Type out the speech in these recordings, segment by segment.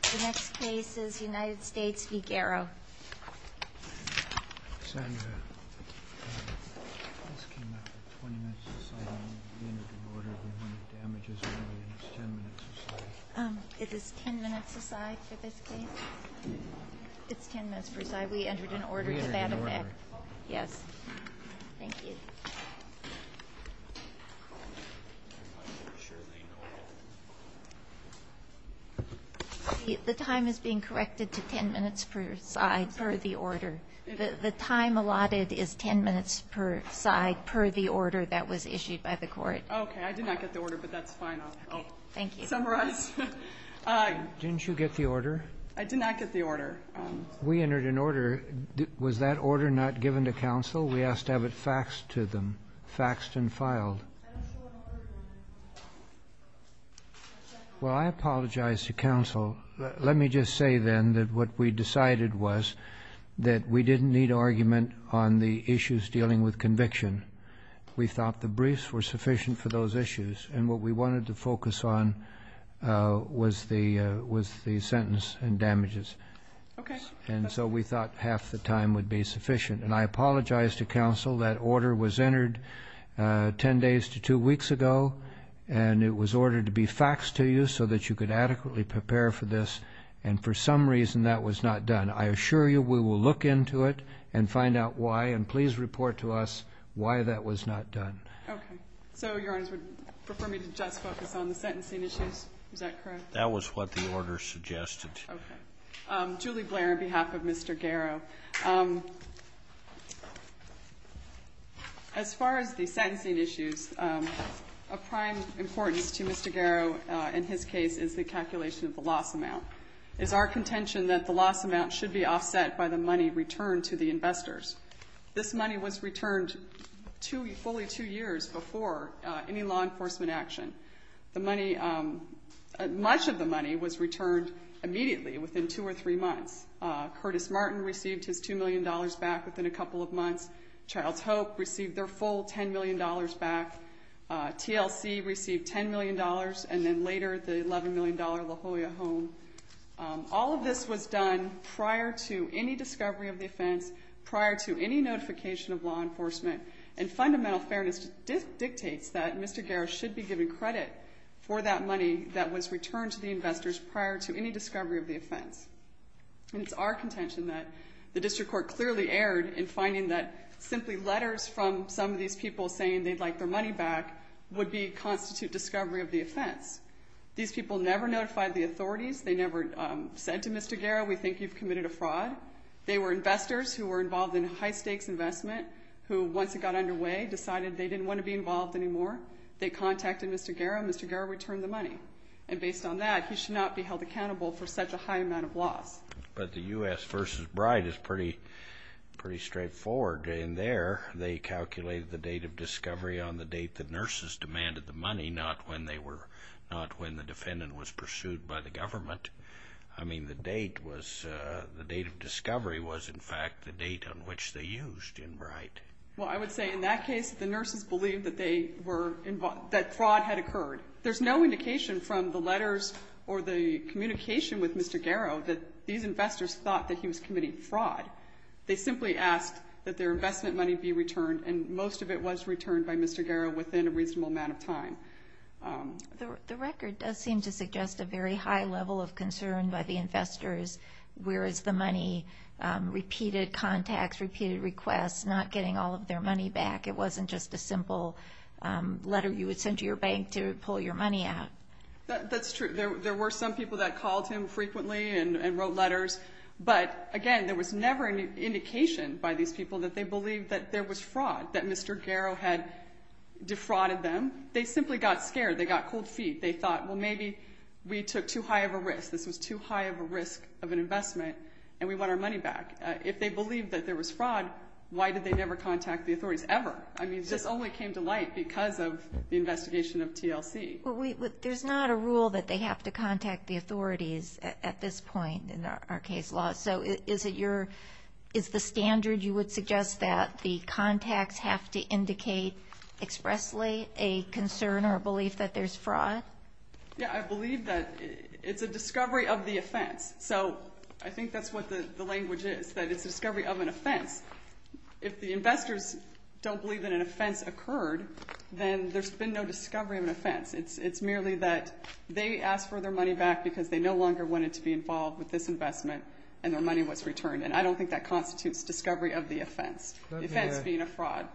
The next case is United States v. Garro. Is this 10 minutes a side for this case? It's 10 minutes per side. We entered an order to that effect. Yes. Thank you. The time is being corrected to 10 minutes per side per the order. The time allotted is 10 minutes per side per the order that was issued by the court. Okay. I did not get the order, but that's fine. Thank you. Summarize. Didn't you get the order? I did not get the order. We entered an order. Was that order not given to counsel? We asked to have it faxed to them, faxed and filed. I don't show an order. Well, I apologize to counsel. Let me just say then that what we decided was that we didn't need argument on the issues dealing with conviction. We thought the briefs were sufficient for those issues, and what we wanted to focus on was the sentence and damages. Okay. And so we thought half the time would be sufficient. And I apologize to counsel. That order was entered 10 days to two weeks ago, and it was ordered to be faxed to you so that you could adequately prepare for this, and for some reason that was not done. I assure you we will look into it and find out why, and please report to us why that was not done. Okay. So your Honor, would you prefer me to just focus on the sentencing issues? Is that correct? That was what the order suggested. Okay. Julie Blair on behalf of Mr. Garrow. As far as the sentencing issues, of prime importance to Mr. Garrow in his case is the calculation of the loss amount. It's our contention that the loss amount should be offset by the money returned to the investors. This money was returned fully two years before any law enforcement action. Much of the money was returned immediately within two or three months. Curtis Martin received his $2 million back within a couple of months. Child's Hope received their full $10 million back. TLC received $10 million, and then later the $11 million La Jolla Home. All of this was done prior to any discovery of the offense, prior to any notification of law enforcement, and fundamental fairness dictates that Mr. Garrow should be given credit for that money that was returned to the investors prior to any discovery of the offense. It's our contention that the district court clearly erred in finding that simply letters from some of these people saying they'd like their money back would constitute discovery of the offense. These people never notified the authorities. They never said to Mr. Garrow, we think you've committed a fraud. They were investors who were involved in high-stakes investment who, once it got underway, decided they didn't want to be involved anymore. They contacted Mr. Garrow, and Mr. Garrow returned the money. And based on that, he should not be held accountable for such a high amount of loss. But the U.S. v. Bride is pretty straightforward. In there, they calculated the date of discovery on the date that nurses demanded the money, not when the defendant was pursued by the government. I mean, the date was the date of discovery was, in fact, the date on which they used in Bride. Well, I would say in that case, the nurses believed that fraud had occurred. There's no indication from the letters or the communication with Mr. Garrow that these investors thought that he was committing fraud. They simply asked that their investment money be returned, and most of it was returned by Mr. Garrow within a reasonable amount of time. The record does seem to suggest a very high level of concern by the investors, whereas the money repeated contacts, repeated requests, not getting all of their money back. It wasn't just a simple letter you would send to your bank to pull your money out. That's true. There were some people that called him frequently and wrote letters. But, again, there was never an indication by these people that they believed that there was fraud, that Mr. Garrow had defrauded them. They simply got scared. They got cold feet. They thought, well, maybe we took too high of a risk. This was too high of a risk of an investment, and we want our money back. If they believed that there was fraud, why did they never contact the authorities ever? I mean, this only came to light because of the investigation of TLC. But there's not a rule that they have to contact the authorities at this point in our case law. So is it your ñ is the standard you would suggest that the contacts have to indicate expressly a concern or a belief that there's fraud? Yeah, I believe that it's a discovery of the offense. So I think that's what the language is, that it's a discovery of an offense. If the investors don't believe that an offense occurred, then there's been no discovery of an offense. It's merely that they asked for their money back because they no longer wanted to be involved with this investment, and their money was returned. And I don't think that constitutes discovery of the offense, the offense being a fraud.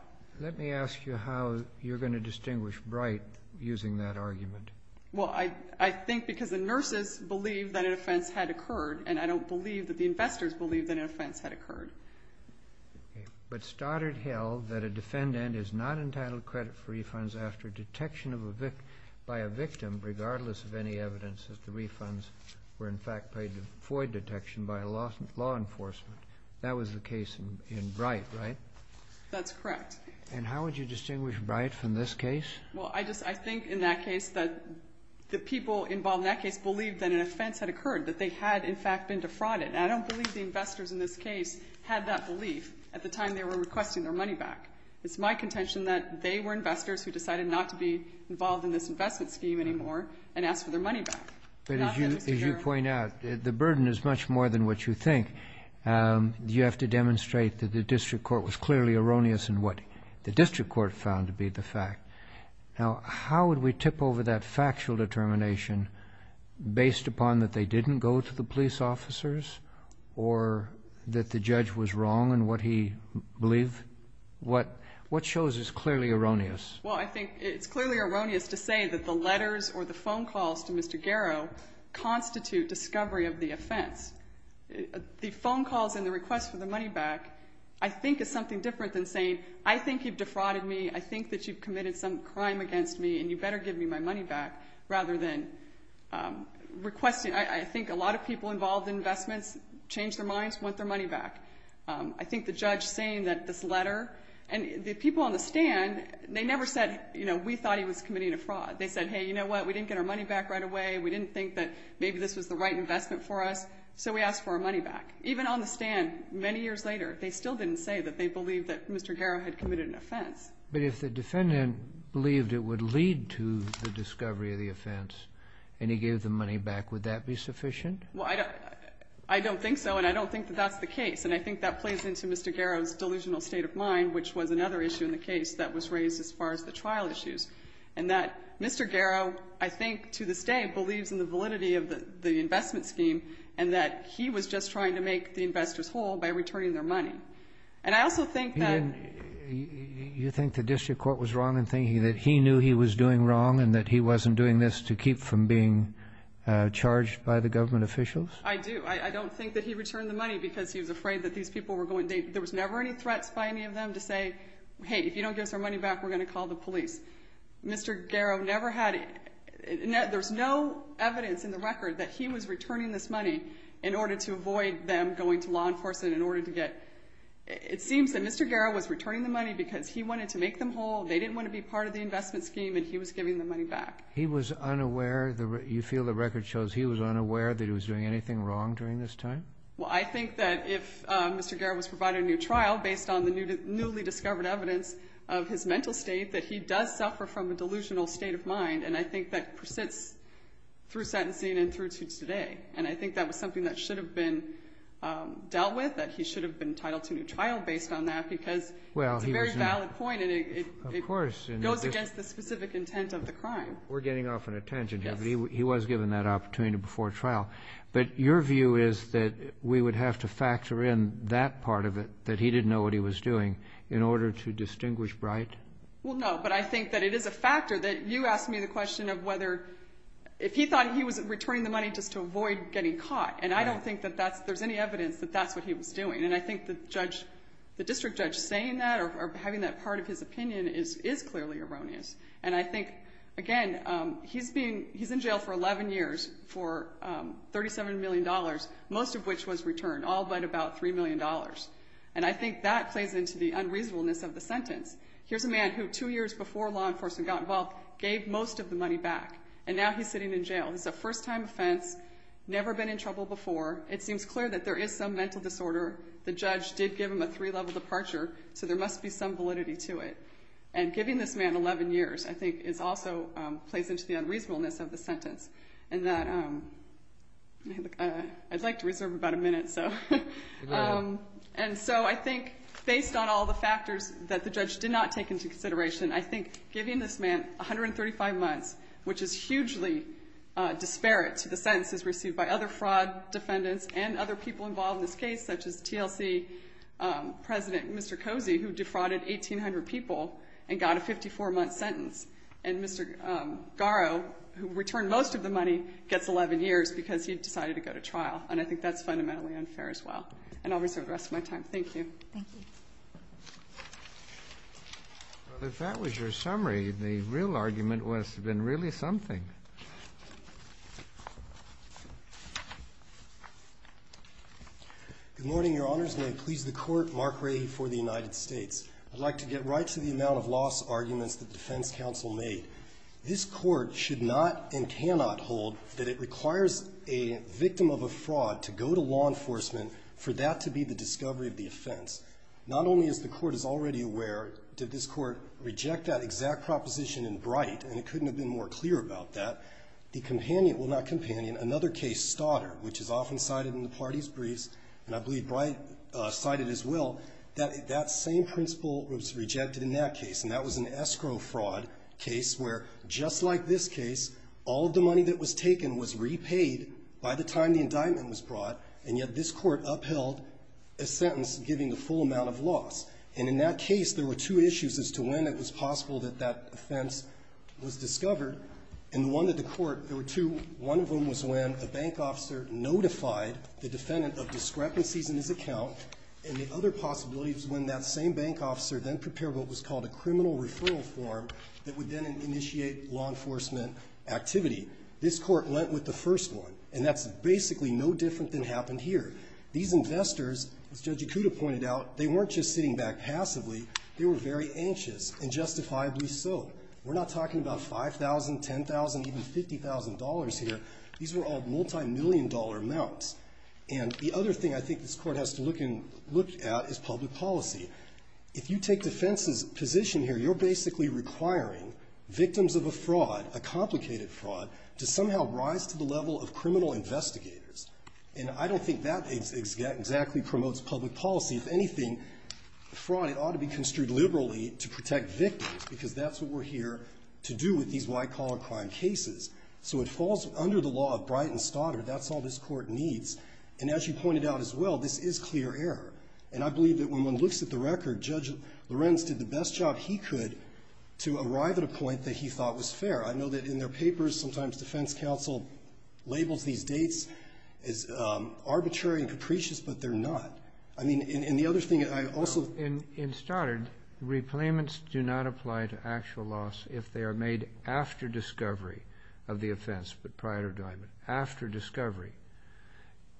Let me ask you how you're going to distinguish Bright using that argument. Well, I think because the nurses believe that an offense had occurred, and I don't believe that the investors believe that an offense had occurred. Okay. But Stoddard held that a defendant is not entitled to credit for refunds after detection of a ñ by a victim regardless of any evidence that the refunds were, in fact, paid for detection by law enforcement. That was the case in Bright, right? That's correct. And how would you distinguish Bright from this case? Well, I think in that case that the people involved in that case believed that an offense had occurred, that they had, in fact, been defrauded. And I don't believe the investors in this case had that belief at the time they were requesting their money back. It's my contention that they were investors who decided not to be involved in this investment scheme anymore and asked for their money back. But as you point out, the burden is much more than what you think. You have to demonstrate that the district court was clearly erroneous in what the district court found to be the fact. Now, how would we tip over that factual determination based upon that they didn't go to the police officers or that the judge was wrong in what he believed? What shows is clearly erroneous. Well, I think it's clearly erroneous to say that the letters or the phone calls to Mr. Garrow constitute discovery of the offense. The phone calls and the requests for the money back, I think, is something different than saying, I think you've defrauded me, I think that you've committed some crime against me, and you better give me my money back, rather than requesting. I think a lot of people involved in investments change their minds, want their money back. I think the judge saying that this letter, and the people on the stand, they never said, you know, we thought he was committing a fraud. They said, hey, you know what, we didn't get our money back right away, we didn't think that maybe this was the right investment for us, so we asked for our money back. Even on the stand, many years later, they still didn't say that they believed that Mr. Garrow had committed an offense. But if the defendant believed it would lead to the discovery of the offense and he gave the money back, would that be sufficient? Well, I don't think so, and I don't think that that's the case. And I think that plays into Mr. Garrow's delusional state of mind, which was another issue in the case that was raised as far as the trial issues, and that Mr. Garrow, I think, to this day, believes in the validity of the investment scheme and that he was just trying to make the investors whole by returning their money. And I also think that you think the district court was wrong in thinking that he knew he was doing wrong and that he wasn't doing this to keep from being charged by the government officials? I do. I don't think that he returned the money because he was afraid that these people were going to there was never any threats by any of them to say, hey, if you don't give us our money back, we're going to call the police. Mr. Garrow never had, there's no evidence in the record that he was returning this money in order to avoid them going to law enforcement in order to get, it seems that Mr. Garrow was to make them whole. They didn't want to be part of the investment scheme, and he was giving the money back. He was unaware, you feel the record shows he was unaware that he was doing anything wrong during this time? Well, I think that if Mr. Garrow was provided a new trial based on the newly discovered evidence of his mental state, that he does suffer from a delusional state of mind. And I think that persists through sentencing and through to today. And I think that was something that should have been dealt with, that he should have been against the specific intent of the crime. We're getting off on a tangent here, but he was given that opportunity before trial. But your view is that we would have to factor in that part of it, that he didn't know what he was doing, in order to distinguish right? Well, no, but I think that it is a factor that you asked me the question of whether, if he thought he was returning the money just to avoid getting caught, and I don't think that there's any evidence that that's what he was doing. And I think the district judge saying that or having that part of his opinion is clearly erroneous. And I think, again, he's in jail for 11 years for $37 million, most of which was returned, all but about $3 million. And I think that plays into the unreasonableness of the sentence. Here's a man who, two years before law enforcement got involved, gave most of the money back. And now he's sitting in jail. It's a first-time offense, never been in trouble before. It seems clear that there is some mental disorder. The judge did give him a three-level departure, so there must be some validity to it. And giving this man 11 years, I think, also plays into the unreasonableness of the sentence. And I'd like to reserve about a minute. And so I think, based on all the factors that the judge did not take into consideration, I think giving this man 135 months, which is hugely disparate to the sentences received by other fraud defendants and other people involved in this case, such as TLC President Mr. Cozy, who defrauded 1,800 people and got a 54-month sentence. And Mr. Garrow, who returned most of the money, gets 11 years because he decided to go to trial. And I think that's fundamentally unfair as well. And I'll reserve the rest of my time. Thank you. Thank you. Well, if that was your summary, the real argument must have been really something. Good morning, Your Honors. May it please the Court. Mark Rahe for the United States. I'd like to get right to the amount of loss arguments that the defense counsel made. This Court should not and cannot hold that it requires a victim of a fraud to go to law enforcement for that to be the discovery of the offense. Not only is the Court already aware that this Court rejected that exact proposition in Bright, and it couldn't have been more clear about that, another case, Stoddard, which is often cited in the parties' briefs, and I believe Bright cited it as well, that that same principle was rejected in that case. And that was an escrow fraud case where, just like this case, all of the money that was taken was repaid by the time the indictment was brought, and yet this Court upheld a sentence giving the full amount of loss. And in that case, there were two issues as to when it was possible that that offense was discovered. In one of the court, there were two. One of them was when a bank officer notified the defendant of discrepancies in his account, and the other possibility was when that same bank officer then prepared what was called a criminal referral form that would then initiate law enforcement activity. This Court went with the first one, and that's basically no different than happened here. These investors, as Judge Ikuda pointed out, they weren't just sitting back passively. They were very anxious, and justifiably so. We're not talking about $5,000, $10,000, even $50,000 here. These were all multimillion-dollar amounts. And the other thing I think this Court has to look at is public policy. If you take defense's position here, you're basically requiring victims of a fraud, a complicated fraud, to somehow rise to the level of criminal investigators. And I don't think that exactly promotes public policy. If anything, fraud ought to be construed liberally to protect victims, because that's what we're here to do with these white-collar crime cases. So it falls under the law of Bright and Stoddard. That's all this Court needs. And as you pointed out as well, this is clear error. And I believe that when one looks at the record, Judge Lorenz did the best job he could to arrive at a point that he thought was fair. I know that in their papers, sometimes defense counsel labels these dates as arbitrary and capricious, but they're not. I mean, and the other thing I also ---- In Stoddard, replacements do not apply to actual loss if they are made after discovery of the offense, but prior to indictment, after discovery.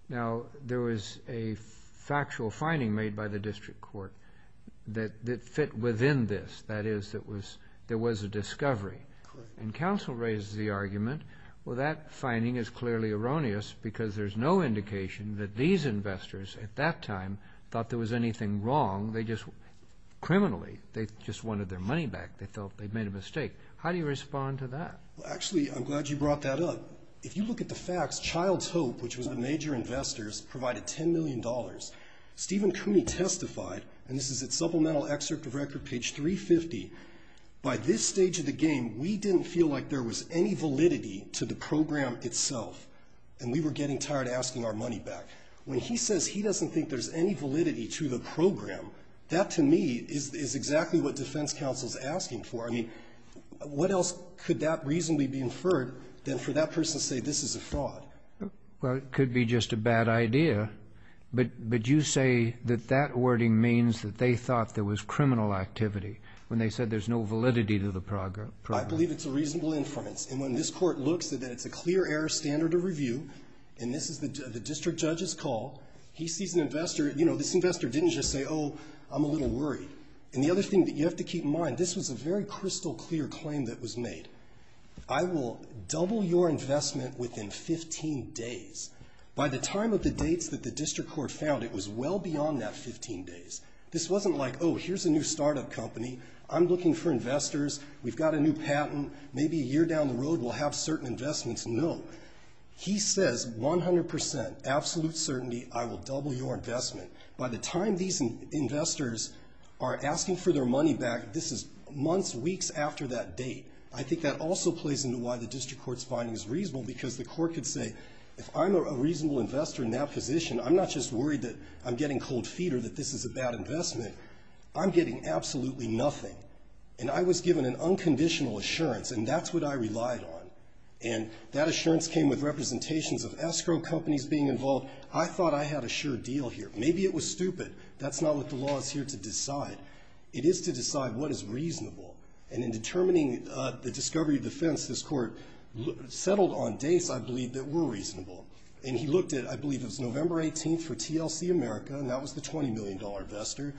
Now, there was a factual finding made by the district court that fit within this, that is, there was a discovery. And counsel raises the argument, well, that finding is clearly erroneous because there's no indication that these investors at that time thought there was anything wrong. Criminally, they just wanted their money back. They felt they'd made a mistake. How do you respond to that? Actually, I'm glad you brought that up. If you look at the facts, Child's Hope, which was a major investor, provided $10 million. Stephen Cooney testified, and this is at Supplemental Excerpt of Record, page 350, by this stage of the game, we didn't feel like there was any validity to the program itself, and we were getting tired asking our money back. When he says he doesn't think there's any validity to the program, that to me is exactly what defense counsel is asking for. I mean, what else could that reasonably be inferred than for that person to say this is a fraud? Well, it could be just a bad idea, but you say that that wording means that they thought there was criminal activity when they said there's no validity to the program. I believe it's a reasonable inference. And when this Court looks at it, it's a clear error standard of review, and this is the district judge's call. He sees an investor. You know, this investor didn't just say, oh, I'm a little worried. And the other thing that you have to keep in mind, this was a very crystal clear claim that was made. I will double your investment within 15 days. By the time of the dates that the district court found, it was well beyond that 15 days. This wasn't like, oh, here's a new startup company. I'm looking for investors. We've got a new patent. Maybe a year down the road we'll have certain investments. No. He says 100%, absolute certainty, I will double your investment. By the time these investors are asking for their money back, this is months, weeks after that date. I think that also plays into why the district court's finding is reasonable, because the court could say, if I'm a reasonable investor in that position, I'm not just worried that I'm getting cold feet or that this is a bad investment. I'm getting absolutely nothing. And I was given an unconditional assurance, and that's what I relied on. And that assurance came with representations of escrow companies being involved. I thought I had a sure deal here. Maybe it was stupid. That's not what the law is here to decide. It is to decide what is reasonable. And in determining the discovery of defense, this court settled on dates, I believe, that were reasonable. And he looked at, I believe it was November 18th for TLC America, and that was the $20 million investor.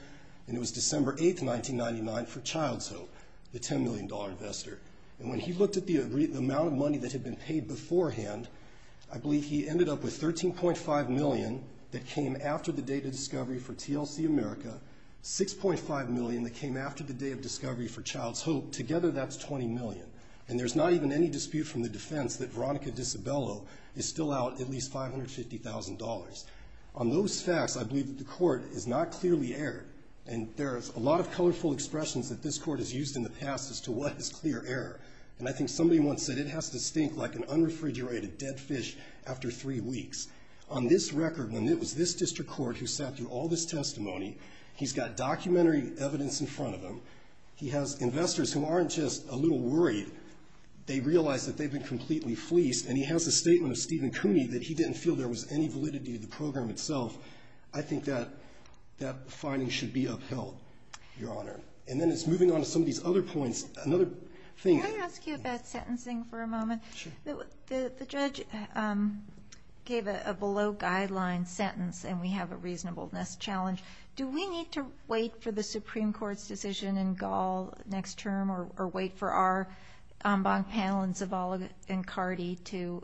And it was December 8th, 1999 for Child's Hope, the $10 million investor. And when he looked at the amount of money that had been paid beforehand, I believe he ended up with $13.5 million that came after the date of discovery for TLC America, $6.5 million that came after the day of discovery for Child's Hope. Together, that's $20 million. And there's not even any dispute from the defense that Veronica Disabello is still out at least $550,000. On those facts, I believe that the court is not clearly erred. And there are a lot of colorful expressions that this court has used in the past as to what is clear error. And I think somebody once said it has to stink like an unrefrigerated dead fish after three weeks. On this record, when it was this district court who sat through all this testimony, he's got documentary evidence in front of him. He has investors who aren't just a little worried. They realize that they've been completely fleeced. And he has a statement of Stephen Cooney that he didn't feel there was any validity to the program itself. I think that that finding should be upheld, Your Honor. And then it's moving on to some of these other points. Another thing. Can I ask you about sentencing for a moment? Sure. The judge gave a below-guideline sentence, and we have a reasonableness challenge. Do we need to wait for the Supreme Court's decision in Gall next term or wait for our en banc panel and Zavala and Cardi to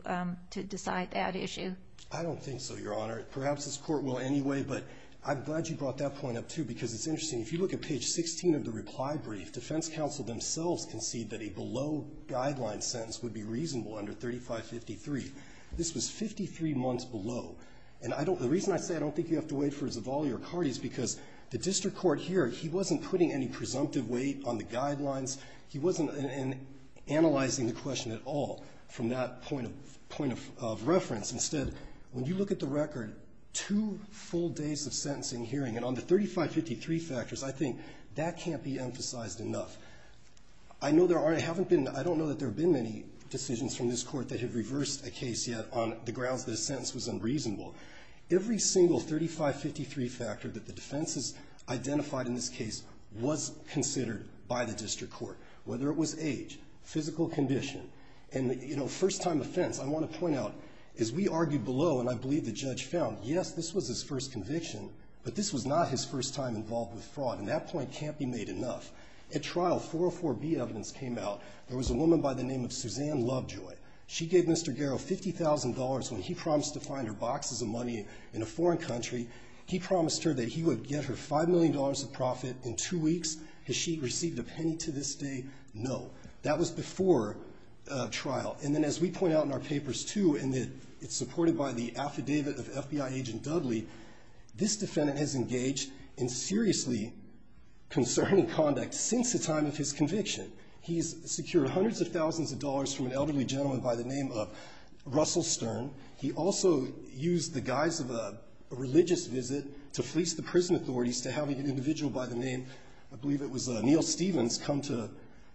decide that issue? I don't think so, Your Honor. Perhaps this court will anyway, but I'm glad you brought that point up too because it's interesting. If you look at page 16 of the reply brief, defense counsel themselves concede that a below-guideline sentence would be reasonable under 3553. This was 53 months below. And the reason I say I don't think you have to wait for Zavala or Cardi is because the district court here, he wasn't putting any presumptive weight on the guidelines. He wasn't analyzing the question at all from that point of reference. Instead, when you look at the record, two full days of sentencing hearing, and on the 3553 factors, I think that can't be emphasized enough. I don't know that there have been many decisions from this court that have reversed a case yet on the grounds that a sentence was unreasonable. Every single 3553 factor that the defense has identified in this case was considered by the district court, whether it was age, physical condition, and first-time offense. I want to point out, as we argued below, and I believe the judge found, yes, this was his first conviction, but this was not his first time involved with fraud. And that point can't be made enough. At trial, 404B evidence came out. There was a woman by the name of Suzanne Lovejoy. She gave Mr. Garrow $50,000 when he promised to find her boxes of money in a foreign country. He promised her that he would get her $5 million of profit in two weeks. Has she received a penny to this day? No. That was before trial. And then as we point out in our papers, too, and it's supported by the affidavit of FBI agent Dudley, this defendant has engaged in seriously concerning conduct since the time of his conviction. He's secured hundreds of thousands of dollars from an elderly gentleman by the name of Russell Stern. He also used the guise of a religious visit to fleece the prison authorities to have an individual by the name, I believe it was Neil Stevens, come to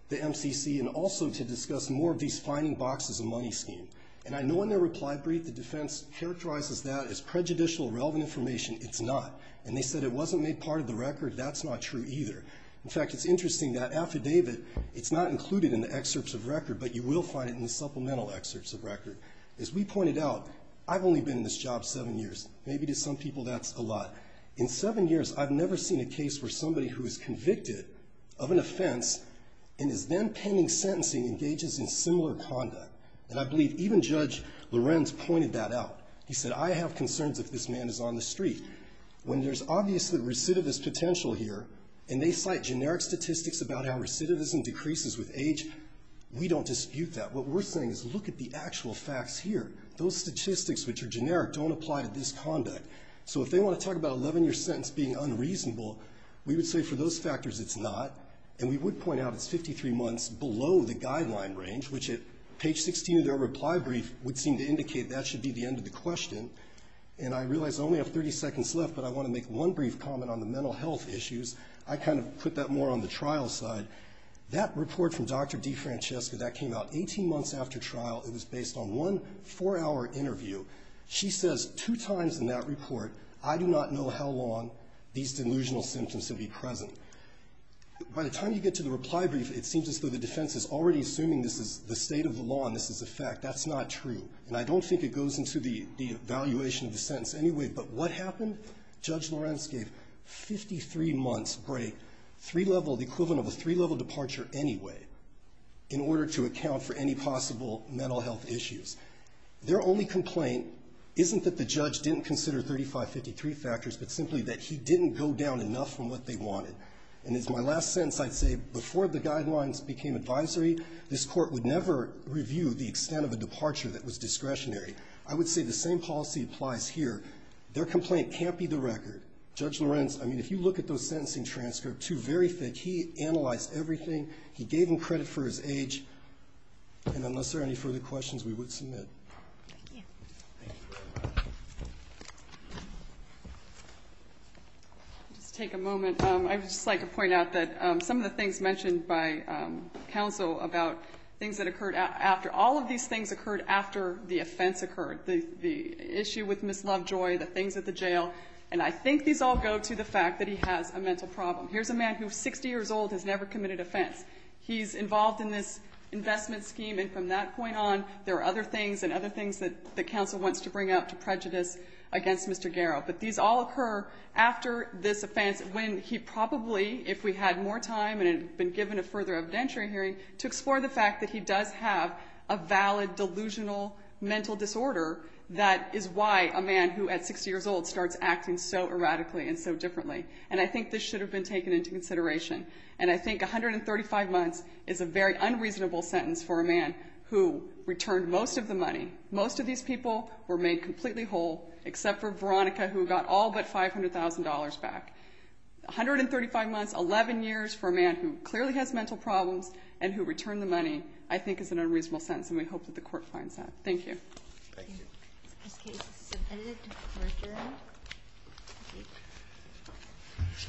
the MCC and also to discuss more of these finding boxes of money schemes. And I know in their reply brief the defense characterizes that as prejudicial, irrelevant information. It's not. And they said it wasn't made part of the record. That's not true either. In fact, it's interesting that affidavit, it's not included in the excerpts of record, but you will find it in the supplemental excerpts of record. As we pointed out, I've only been in this job seven years. Maybe to some people that's a lot. In seven years I've never seen a case where somebody who is convicted of an offense and is then pending sentencing engages in similar conduct. And I believe even Judge Lorenz pointed that out. He said, I have concerns if this man is on the street. When there's obviously recidivist potential here, and they cite generic statistics about how recidivism decreases with age, we don't dispute that. What we're saying is look at the actual facts here. Those statistics, which are generic, don't apply to this conduct. So if they want to talk about an 11-year sentence being unreasonable, we would say for those factors it's not. And we would point out it's 53 months below the guideline range, which at page 16 of their reply brief would seem to indicate that should be the end of the question. And I realize I only have 30 seconds left, but I want to make one brief comment on the mental health issues. I kind of put that more on the trial side. That report from Dr. DeFrancesca, that came out 18 months after trial. It was based on one four-hour interview. She says two times in that report, I do not know how long these delusional symptoms will be present. By the time you get to the reply brief, it seems as though the defense is already assuming this is the state of the law and this is a fact. That's not true. And I don't think it goes into the evaluation of the sentence anyway. But what happened? Judge Lorenz gave 53 months break, three-level, the equivalent of a three-level departure anyway, in order to account for any possible mental health issues. Their only complaint isn't that the judge didn't consider 3553 factors, but simply that he didn't go down enough from what they wanted. And as my last sentence, I'd say before the guidelines became advisory, this Court would never review the extent of a departure that was discretionary. I would say the same policy applies here. Their complaint can't be the record. Judge Lorenz, I mean, if you look at those sentencing transcripts, two very thick. He analyzed everything. He gave them credit for his age. And unless there are any further questions, we would submit. Thank you. Thank you. I'll just take a moment. I would just like to point out that some of the things mentioned by counsel about things that occurred after all of these things occurred after the offense occurred, the issue with Ms. Lovejoy, the things at the jail, and I think these all go to the fact that he has a mental problem. Here's a man who's 60 years old, has never committed offense. He's involved in this investment scheme. And from that point on, there are other things and other things that counsel wants to bring up to prejudice against Mr. Garrow. But these all occur after this offense when he probably, if we had more time and had been given a further evidentiary hearing, to explore the fact that he does have a valid delusional mental disorder that is why a man who at 60 years old starts acting so erratically and so differently. And I think this should have been taken into consideration. And I think 135 months is a very unreasonable sentence for a man who returned most of the money. Most of these people were made completely whole, except for Veronica who got all but $500,000 back. 135 months, 11 years for a man who clearly has mental problems and who returned the money I think is an unreasonable sentence, and we hope that the court finds that. Thank you. Thank you.